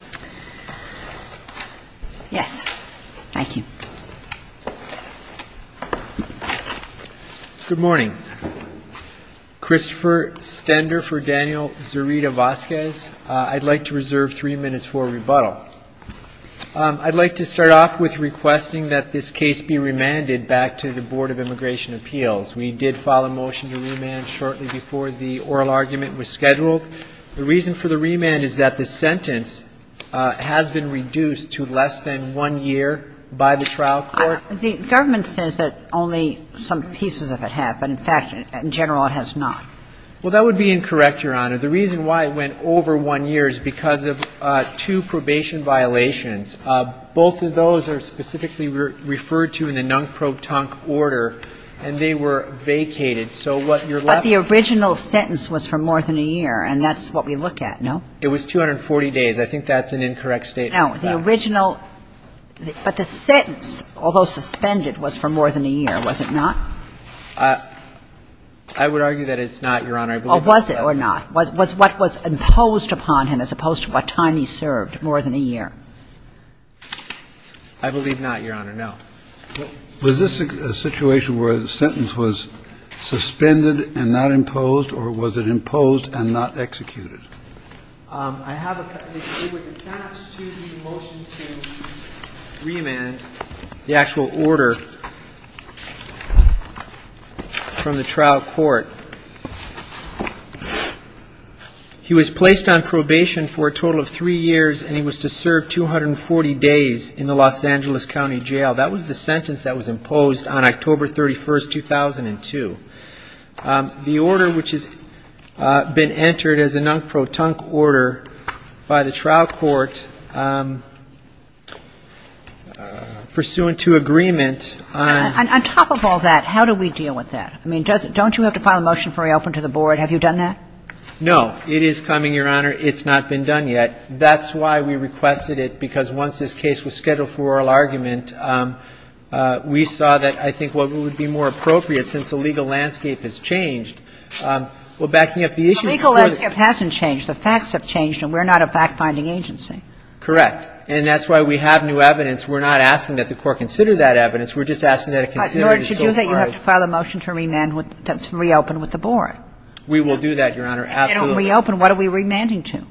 I would like to start off with requesting that this case be remanded back to the Board of Immigration Appeals. We did file a motion to remand shortly before the oral argument was scheduled. The reason for the remand is that the sentence has been reduced to less than one year by the trial court. The government says that only some pieces of it have, but in fact, in general, it has not. Well, that would be incorrect, Your Honor. The reason why it went over one year is because of two probation violations. Both of those are specifically referred to in the nunc pro tonc order, and they were vacated. So what you're left with is a sentence for more than a year, and that's what we look at, no? It was 240 days. I think that's an incorrect statement. No. The original – but the sentence, although suspended, was for more than a year, was it not? I would argue that it's not, Your Honor. I believe it was less than that. Well, was it or not? Was what was imposed upon him, as opposed to what time he served, more than a year? I believe not, Your Honor, no. Was this a situation where the sentence was suspended and not imposed, or was it imposed and not executed? It was attached to the motion to remand the actual order from the trial court. He was placed on probation for a total of three years, and he was to serve 240 days in the Los Angeles County Jail. That was the sentence that was imposed on October 31, 2002. The order which has been entered as a nunc pro tonc order by the trial court, pursuant to agreement on – On top of all that, how do we deal with that? I mean, doesn't – don't you have to file a motion for reopening to the board? Have you done that? No. It is coming, Your Honor. It's not been done yet. That's why we requested it, because once this case was scheduled for oral argument, we saw that I think what would be more appropriate, since the legal landscape has changed – well, backing up the issue before the – The legal landscape hasn't changed. The facts have changed, and we're not a fact-finding agency. Correct. And that's why we have new evidence. We're not asking that the Court consider that evidence. We're just asking that it be considered as so far as – But in order to do that, you have to file a motion to remand – to reopen with the board. We will do that, Your Honor, absolutely. If they don't reopen, what are we remanding to?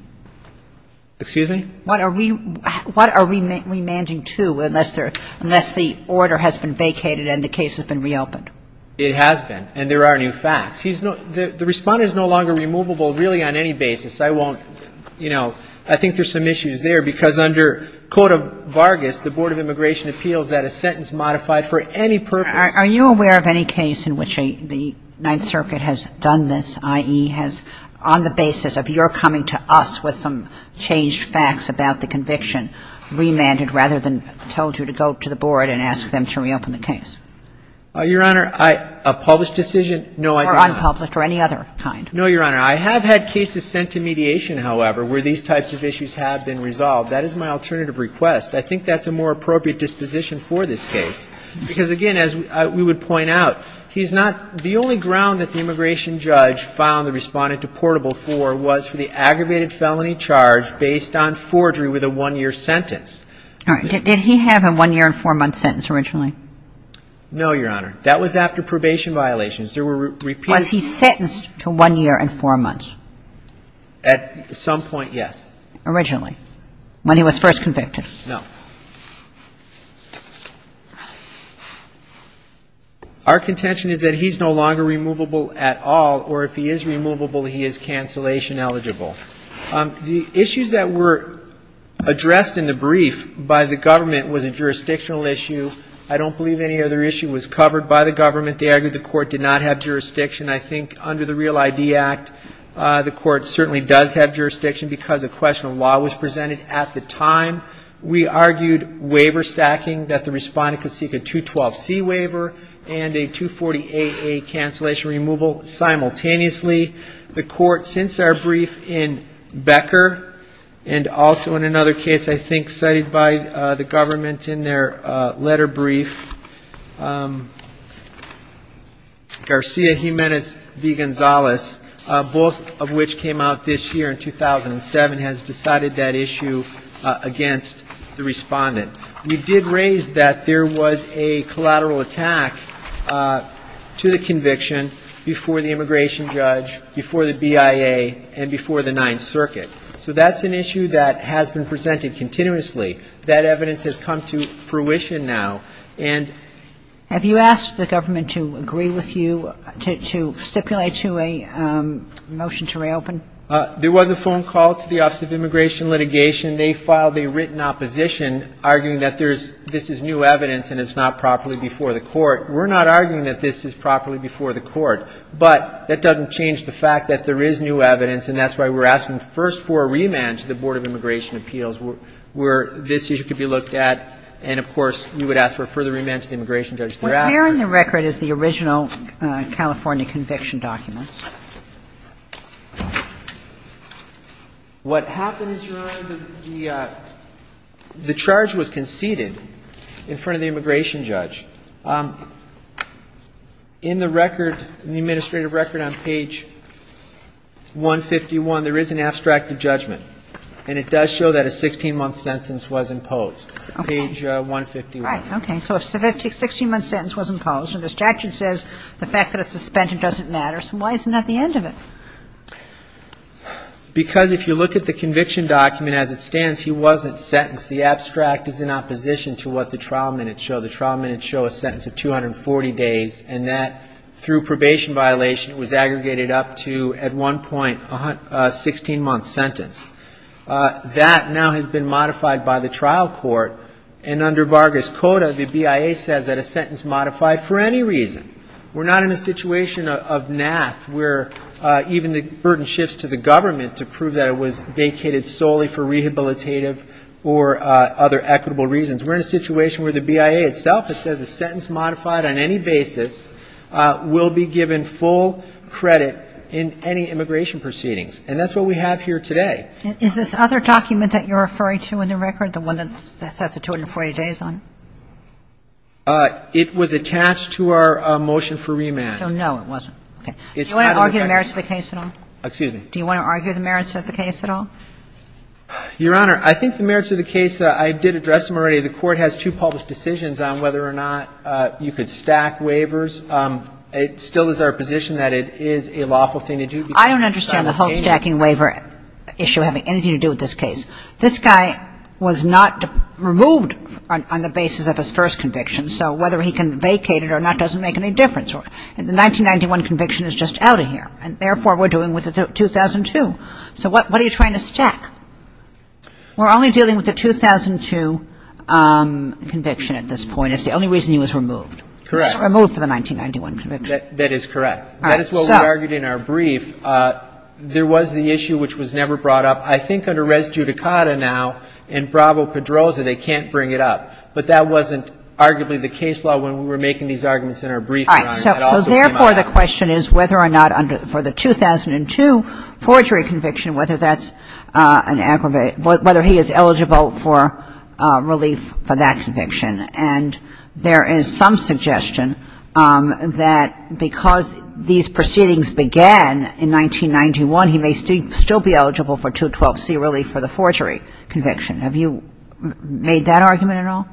Excuse me? What are we – what are we remanding to, unless there – unless the order has been vacated and the case has been reopened? It has been, and there are new facts. He's no – the Respondent is no longer removable, really, on any basis. I won't – you know, I think there's some issues there, because under Code of Vargas, the Board of Immigration Appeals that a sentence modified for any purpose – Are you aware of any case in which a – the Ninth Circuit has done this, i.e., has – on the basis of your coming to us with some changed facts about the conviction, remanded rather than told you to go to the board and ask them to reopen the case? Your Honor, I – a published decision – no, I – Or unpublished or any other kind. No, Your Honor. I have had cases sent to mediation, however, where these types of issues have been resolved. That is my alternative request. I think that's a more appropriate disposition for this case, because, again, as we would point out, he's was for the aggravated felony charge based on forgery with a one-year sentence. All right. Did he have a one-year and four-month sentence originally? No, Your Honor. That was after probation violations. There were repeated Was he sentenced to one year and four months? At some point, yes. Originally, when he was first convicted. No. Our contention is that he's no longer removable at all, or if he is removable he is cancellation eligible. The issues that were addressed in the brief by the government was a jurisdictional issue. I don't believe any other issue was covered by the government. They argued the court did not have jurisdiction. I think under the Real ID Act, the court certainly does have jurisdiction, because a question of law was presented at the time. We argued waiver stacking, that the respondent could seek a 212C waiver and a 240AA cancellation removal simultaneously. The court, since our brief in Becker, and also in another case I think cited by the government in their letter brief, Garcia Jimenez v. Gonzalez, both of which came out this year in 2007, has decided that issue against the respondent. We did raise that there was a collateral attack to the conviction before the immigration judge, before the BIA, and before the Ninth Circuit. So that's an issue that has been presented continuously. That evidence has come to fruition now. And Have you asked the government to agree with you to stipulate to a motion to reopen? There was a phone call to the Office of Immigration Litigation. They filed a written opposition, arguing that there's this is new evidence and it's not properly before the court. We're not arguing that this is properly before the court. But that doesn't change the fact that there is new evidence, and that's why we're asking first for a remand to the Board of Immigration Appeals, where this issue could be looked at. And, of course, we would ask for a further remand to the immigration judge thereafter. What's there on the record is the original California conviction documents. What happens, Your Honor, the charge was conceded in front of the immigration judge. In the record, in the administrative record on page 151, there is an abstracted judgment, and it does show that a 16-month sentence was imposed. Page 151. All right. Okay. So if a 16-month sentence was imposed, and the statute says the fact that it's suspended doesn't matter, so why isn't there a 16-month sentence at the end of it? Because if you look at the conviction document as it stands, he wasn't sentenced. The abstract is in opposition to what the trial minutes show. The trial minutes show a sentence of 240 days, and that, through probation violation, was aggregated up to, at one point, a 16-month sentence. That now has been modified by the trial court, and under Vargas Coda, the BIA says that a sentence modified for any reason. We're not in a situation of NAAF where even the burden shifts to the government to prove that it was vacated solely for rehabilitative or other equitable reasons. We're in a situation where the BIA itself, it says a sentence modified on any basis will be given full credit in any immigration proceedings, and that's what we have here today. Is this other document that you're referring to in the record, the one that says the 240 days on it? It was attached to our motion for remand. So no, it wasn't. Okay. Do you want to argue the merits of the case at all? Excuse me? Do you want to argue the merits of the case at all? Your Honor, I think the merits of the case, I did address them already. The Court has two published decisions on whether or not you could stack waivers. It still is our position that it is a lawful thing to do because it's simultaneous. I don't understand the whole stacking waiver issue having anything to do with this case. This guy was not removed on the basis of his first conviction, so whether he can vacate it or not doesn't make any difference. The 1991 conviction is just out of here, and therefore we're dealing with the 2002. So what are you trying to stack? We're only dealing with the 2002 conviction at this point. It's the only reason he was removed. Correct. He was removed for the 1991 conviction. That is correct. All right. That is what we argued in our brief. There was the issue which was never brought up. I think under res judicata now, in bravo pedrosa, they can't bring it up. But that wasn't arguably the case law when we were making these arguments in our brief, Your Honor. All right. So therefore the question is whether or not for the 2002 forgery conviction, whether that's an aggravate, whether he is eligible for relief for that conviction. And there is some suggestion that because these proceedings began in 1991, he may still be eligible for 212C relief for the forgery conviction. Have you made that argument at all?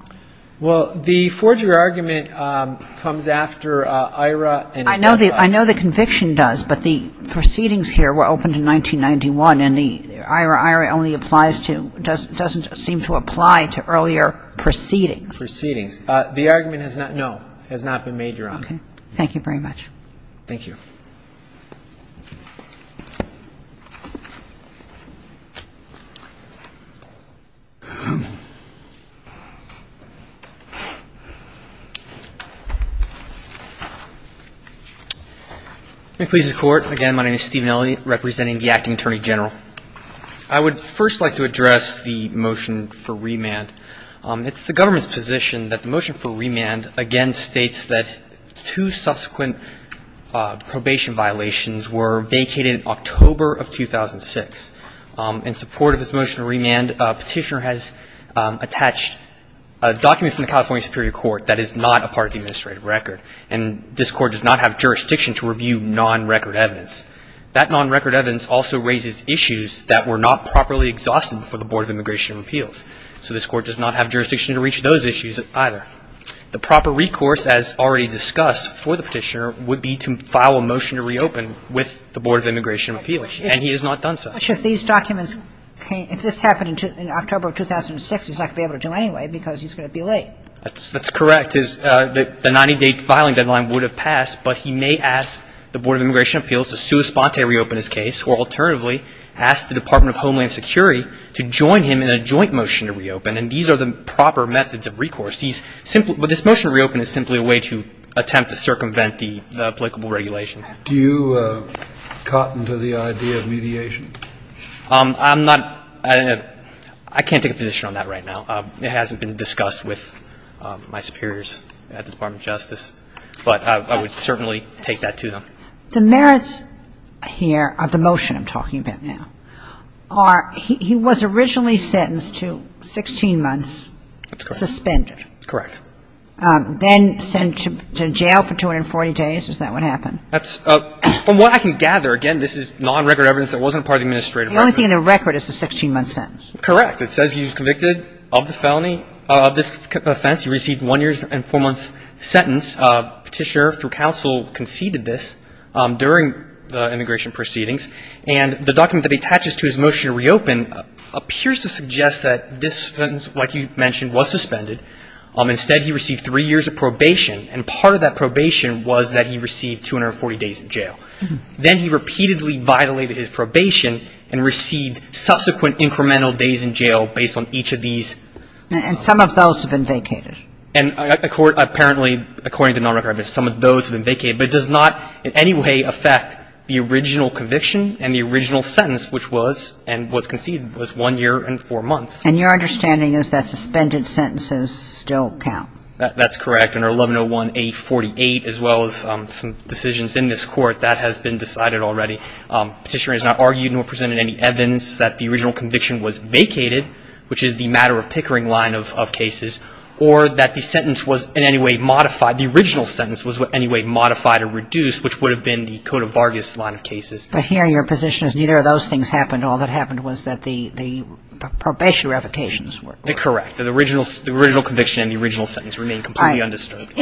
Well, the forgery argument comes after IRA and other. I know the conviction does, but the proceedings here were opened in 1991, and the IRA only applies to, doesn't seem to apply to earlier proceedings. Proceedings. The argument has not, no, has not been made, Your Honor. Okay. Thank you very much. Thank you. Thank you. Please report. Again, my name is Stephen Elliott, representing the Acting Attorney General. I would first like to address the motion for remand. It's the government's position that the motion for remand again states that two subsequent probation violations were vacated in October of 2006. In support of this motion for remand, a petitioner has attached a document from the California Superior Court that is not a part of the administrative record, and this Court does not have jurisdiction to review non-record evidence. That non-record evidence also raises issues that were not properly exhausted before the Board of Immigration and Repeals. So this Court does not have jurisdiction to reach those issues either. The proper recourse, as already discussed for the petitioner, would be to file a motion to reopen with the Board of Immigration and Repeals, and he has not done so. But, Sheriff, these documents, if this happened in October of 2006, he's not going to be able to do it anyway because he's going to be late. That's correct. The 90-day filing deadline would have passed, but he may ask the Board of Immigration and Appeals to sua sponte reopen his case, or alternatively, ask the Department of Homeland Security to join him in a joint motion to reopen, and these are the proper methods of recourse. He's simply – but this motion to reopen is simply a way to attempt to circumvent the applicable regulations. Do you cotton to the idea of mediation? I'm not – I can't take a position on that right now. It hasn't been discussed with my superiors at the Department of Justice, but I would certainly take that to them. The merits here of the motion I'm talking about now are he was originally sentenced to 16 months suspended. Correct. Then sent to jail for 240 days. Is that what happened? That's – from what I can gather, again, this is non-record evidence that wasn't part of the administrative record. The only thing in the record is the 16-month sentence. Correct. It says he was convicted of the felony, of this offense. He received a one-year and four-month sentence. Petitioner, through counsel, conceded this during the immigration proceedings. And the document that attaches to his motion to reopen appears to suggest that this sentence, like you mentioned, was suspended. Instead, he received three years of probation. And part of that probation was that he received 240 days in jail. Then he repeatedly violated his probation and received subsequent incremental days in jail based on each of these. And some of those have been vacated. And apparently, according to non-record evidence, some of those have been vacated. But it does not in any way affect the original conviction and the original sentence, which was – and was conceded – was one year and four months. And your understanding is that suspended sentences still count? That's correct. Under 1101A48, as well as some decisions in this court, that has been decided already. Petitioner has not argued nor presented any evidence that the original conviction was vacated, which is the matter-of-pickering line of cases, or that the sentence was in any way modified – the original sentence was in any way modified or reduced, which would have been the Cote of Vargas line of cases. But here your position is neither of those things happened. All that happened was that the probation revocations were. Correct. The original conviction and the original sentence remain completely undisturbed.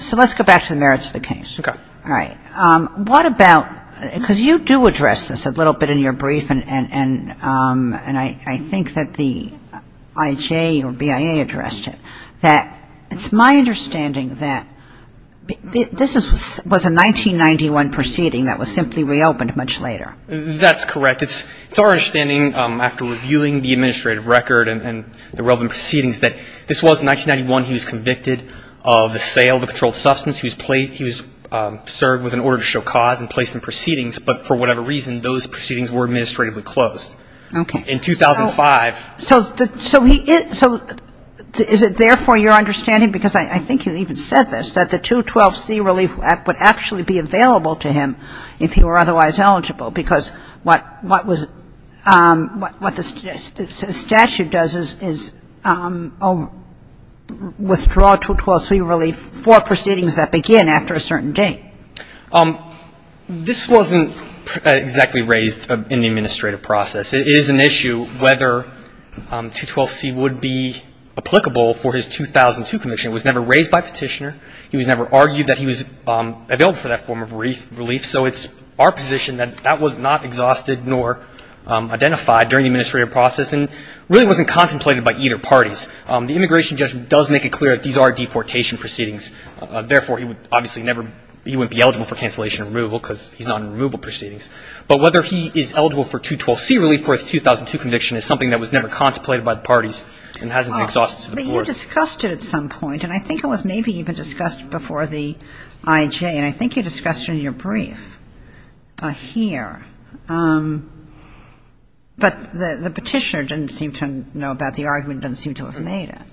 So let's go back to the merits of the case. Okay. All right. What about – because you do address this a little bit in your brief, and I think that the IJ or BIA addressed it, that it's my understanding that this was a 1991 proceeding that was simply reopened much later. That's correct. It's our understanding, after reviewing the administrative record and the relevant proceedings, that this was 1991. He was convicted of the sale of a controlled substance. He was served with an order to show cause and placed in proceedings. But for whatever reason, those proceedings were administratively closed. Okay. In 2005. So is it therefore your understanding, because I think you even said this, that the 212C Relief Act would actually be available to him if he were otherwise eligible, because what the statute does is withdraw 212C Relief for proceedings that begin after a certain date. This wasn't exactly raised in the administrative process. It is an issue whether 212C would be applicable for his 2002 conviction. It was never raised by petitioner. He was never argued that he was available for that form of relief. So it's our position that that was not exhausted nor identified during the administrative process and really wasn't contemplated by either parties. The immigration judge does make it clear that these are deportation proceedings. Therefore, he would obviously never – he wouldn't be eligible for cancellation and removal because he's not in removal proceedings. But whether he is eligible for 212C Relief for his 2002 conviction is something that was never contemplated by the parties and hasn't been exhausted to the board. But you discussed it at some point. And I think it was maybe even discussed before the IJ. And I think you discussed it in your brief here. But the petitioner didn't seem to know about the argument, didn't seem to have made it.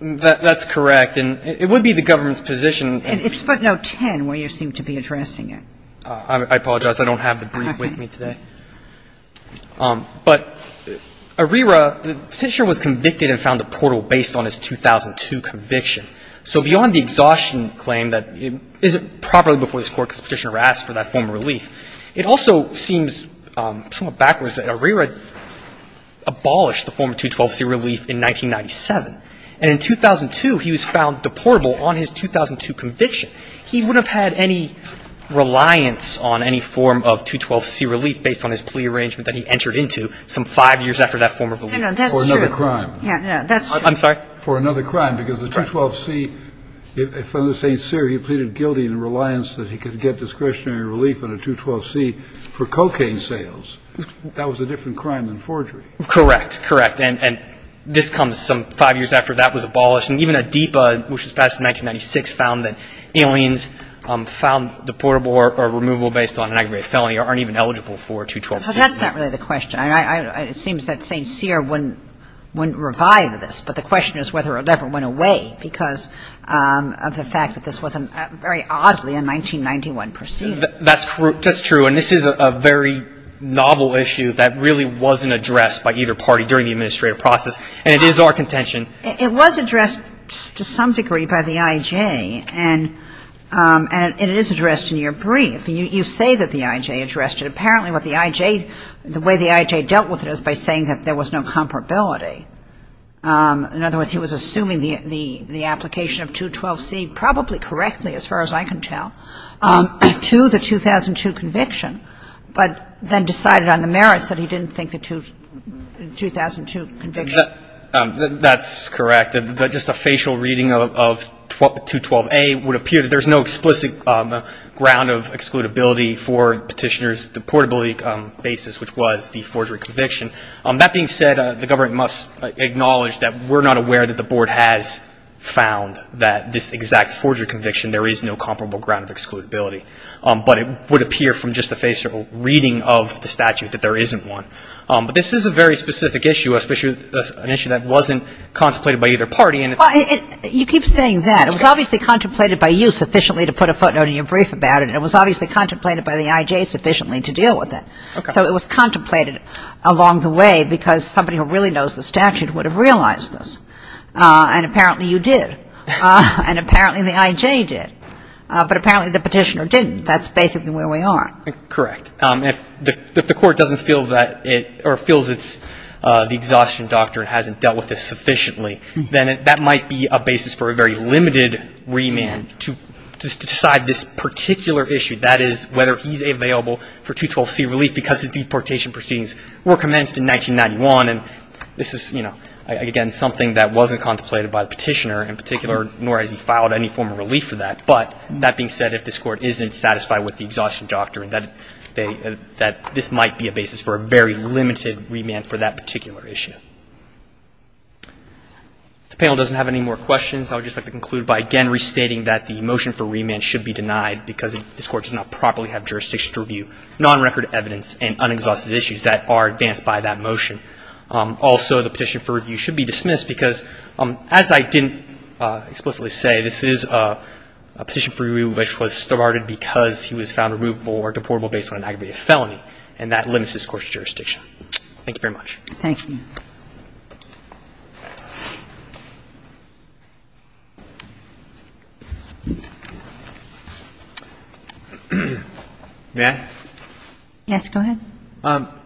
That's correct. And it would be the government's position. It's footnote 10 where you seem to be addressing it. I apologize. I don't have the brief with me today. But Arrera, the petitioner was convicted and found deportable based on his 2002 conviction. So beyond the exhaustion claim that is it properly before this court because the petitioner asked for that form of relief, it also seems somewhat backwards that Arrera abolished the form of 212C Relief in 1997. And in 2002, he was found deportable on his 2002 conviction. He would have had any reliance on any form of 212C Relief based on his plea arrangement that he entered into some five years after that form of relief. That's true. For another crime. That's true. I'm sorry? For another crime. Because the 212C from the St. Cyr, he pleaded guilty in reliance that he could get discretionary relief on a 212C for cocaine sales. That was a different crime than forgery. Correct. Correct. And this comes some five years after that was abolished. And even Adipa, which was passed in 1996, found that aliens found deportable or removable based on an aggravated felony aren't even eligible for a 212C. But that's not really the question. It seems that St. Cyr wouldn't revive this. But the question is whether it ever went away because of the fact that this was very oddly a 1991 proceeding. That's true. And this is a very novel issue that really wasn't addressed by either party during the administrative process. And it is our contention. It was addressed to some degree by the I.J. And it is addressed in your brief. You say that the I.J. addressed it. Apparently what the I.J. The way the I.J. dealt with it is by saying that there was no comparability. In other words, he was assuming the application of 212C probably correctly, as far as I can tell, to the 2002 conviction, but then decided on the merits that he didn't think the 2002 conviction. That's correct. But just a facial reading of 212A would appear that there's no explicit ground of excludability for petitioner's deportability basis, which was the forgery conviction. That being said, the government must acknowledge that we're not aware that the board has found that this exact forgery conviction there is no comparable ground of excludability. But it would appear from just a facial reading of the statute that there isn't one. But this is a very specific issue, an issue that wasn't contemplated by either party. You keep saying that. It was obviously contemplated by you sufficiently to put a footnote in your brief about it. It was obviously contemplated by the I.J. sufficiently to deal with it. Okay. So it was contemplated along the way because somebody who really knows the statute would have realized this. And apparently you did. And apparently the I.J. did. But apparently the petitioner didn't. That's basically where we are. Correct. If the court doesn't feel that it or feels the exhaustion doctrine hasn't dealt with this sufficiently, then that might be a basis for a very limited remand to decide this particular issue. That is, whether he's available for 212C relief because his deportation proceedings were commenced in 1991. And this is, you know, again, something that wasn't contemplated by the petitioner in particular, nor has he filed any form of relief for that. But that being said, if this court isn't satisfied with the exhaustion doctrine, that this might be a basis for a very limited remand for that particular issue. If the panel doesn't have any more questions, I would just like to conclude by again restating that the motion for remand should be denied because this court does not properly have jurisdiction to review non-record evidence and unexhausted issues that are advanced by that motion. Also, the petition for review should be dismissed because, as I didn't explicitly say, this is a petition for review which was started because he was found removable or deportable based on an aggravated felony, and that limits this court's jurisdiction. Thank you very much. Thank you. May I? Yes, go ahead.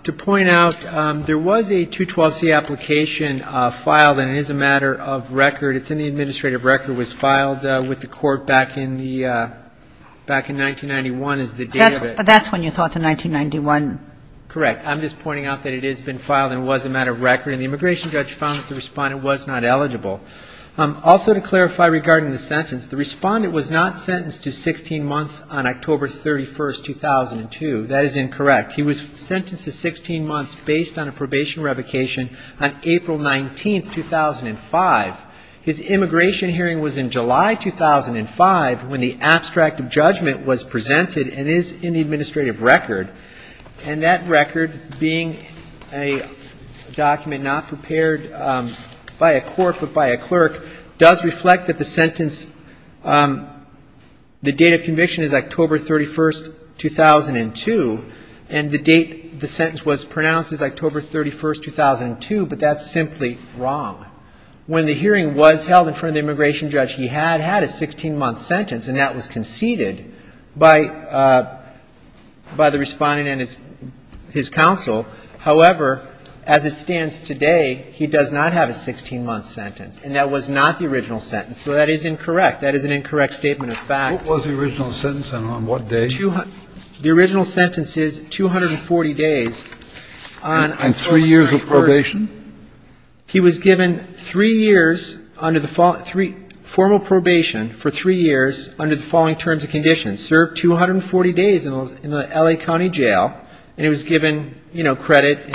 To point out, there was a 212C application filed, and it is a matter of record. It's in the administrative record. It was filed with the court back in 1991 is the date of it. But that's when you thought, in 1991? Correct. I'm just pointing out that it has been filed and was a matter of record, and the immigration judge found that the respondent was not eligible. Also, to clarify regarding the sentence, the respondent was not sentenced to 16 months on October 31, 2002. That is incorrect. He was sentenced to 16 months based on a probation revocation on April 19, 2005. His immigration hearing was in July 2005 when the abstract of judgment was presented and is in the administrative record. And that record, being a document not prepared by a court but by a clerk, does reflect that the sentence, the date of conviction is October 31, 2002, and the date the sentence was pronounced is October 31, 2002. But that's simply wrong. When the hearing was held in front of the immigration judge, he had had a 16-month sentence, and that was conceded by the respondent and his counsel. However, as it stands today, he does not have a 16-month sentence, and that was not the original sentence. So that is incorrect. That is an incorrect statement of fact. What was the original sentence, and on what day? And three years of probation? He was given three years under the following, formal probation for three years under the following terms and conditions, served 240 days in the L.A. County Jail, and he was given, you know, credit.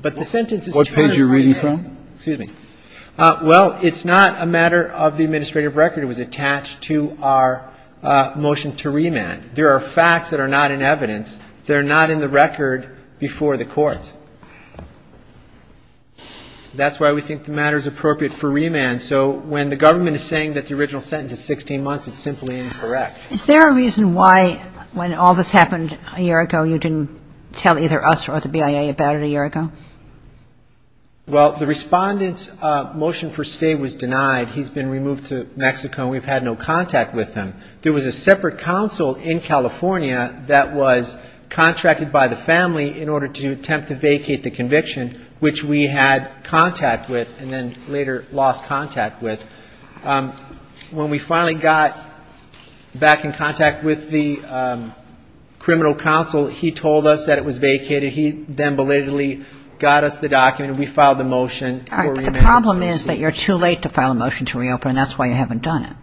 But the sentence is two and a quarter years. What page are you reading from? Excuse me. Well, it's not a matter of the administrative record. It was attached to our motion to remand. There are facts that are not in evidence. They're not in the record before the court. That's why we think the matter is appropriate for remand. So when the government is saying that the original sentence is 16 months, it's simply incorrect. Is there a reason why, when all this happened a year ago, you didn't tell either us or the BIA about it a year ago? Well, the respondent's motion for stay was denied. He's been removed to Mexico, and we've had no contact with him. There was a separate counsel in California that was contracted by the family in order to attempt to vacate the conviction, which we had contact with and then later lost contact with. When we finally got back in contact with the criminal counsel, he told us that it was vacated. He then belatedly got us the document, and we filed the motion for remand. All right, but the problem is that you're too late to file a motion to reopen, and that's why you haven't done it.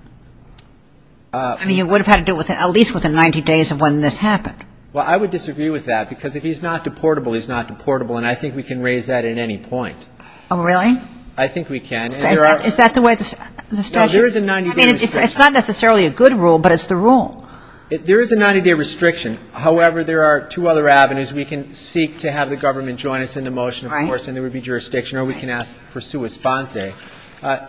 I mean, you would have had to do it at least within 90 days of when this happened. Well, I would disagree with that, because if he's not deportable, he's not deportable, and I think we can raise that at any point. Oh, really? I think we can. Is that the way the statute is? No, there is a 90-day restriction. I mean, it's not necessarily a good rule, but it's the rule. There is a 90-day restriction. However, there are two other avenues. We can seek to have the government join us in the motion, of course, and there would be jurisdiction, or we can ask for sua sponte.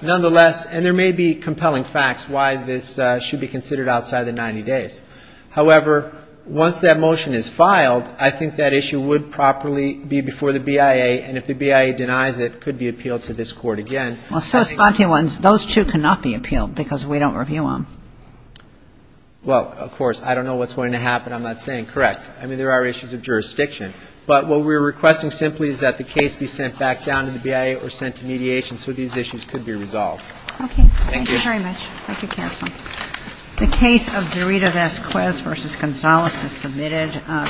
Nonetheless, and there may be compelling facts why this should be considered outside the 90 days. However, once that motion is filed, I think that issue would properly be before the BIA, and if the BIA denies it, it could be appealed to this court again. Well, sua sponte ones, those two cannot be appealed, because we don't review them. Well, of course, I don't know what's going to happen. I'm not saying. Correct. I mean, there are issues of jurisdiction, but what we're requesting simply is that the case be sent back down to the BIA or sent to mediation Okay. Thank you. Thank you very much. Thank you, Counsel. The case of Zerita Vasquez v. Gonzales is submitted.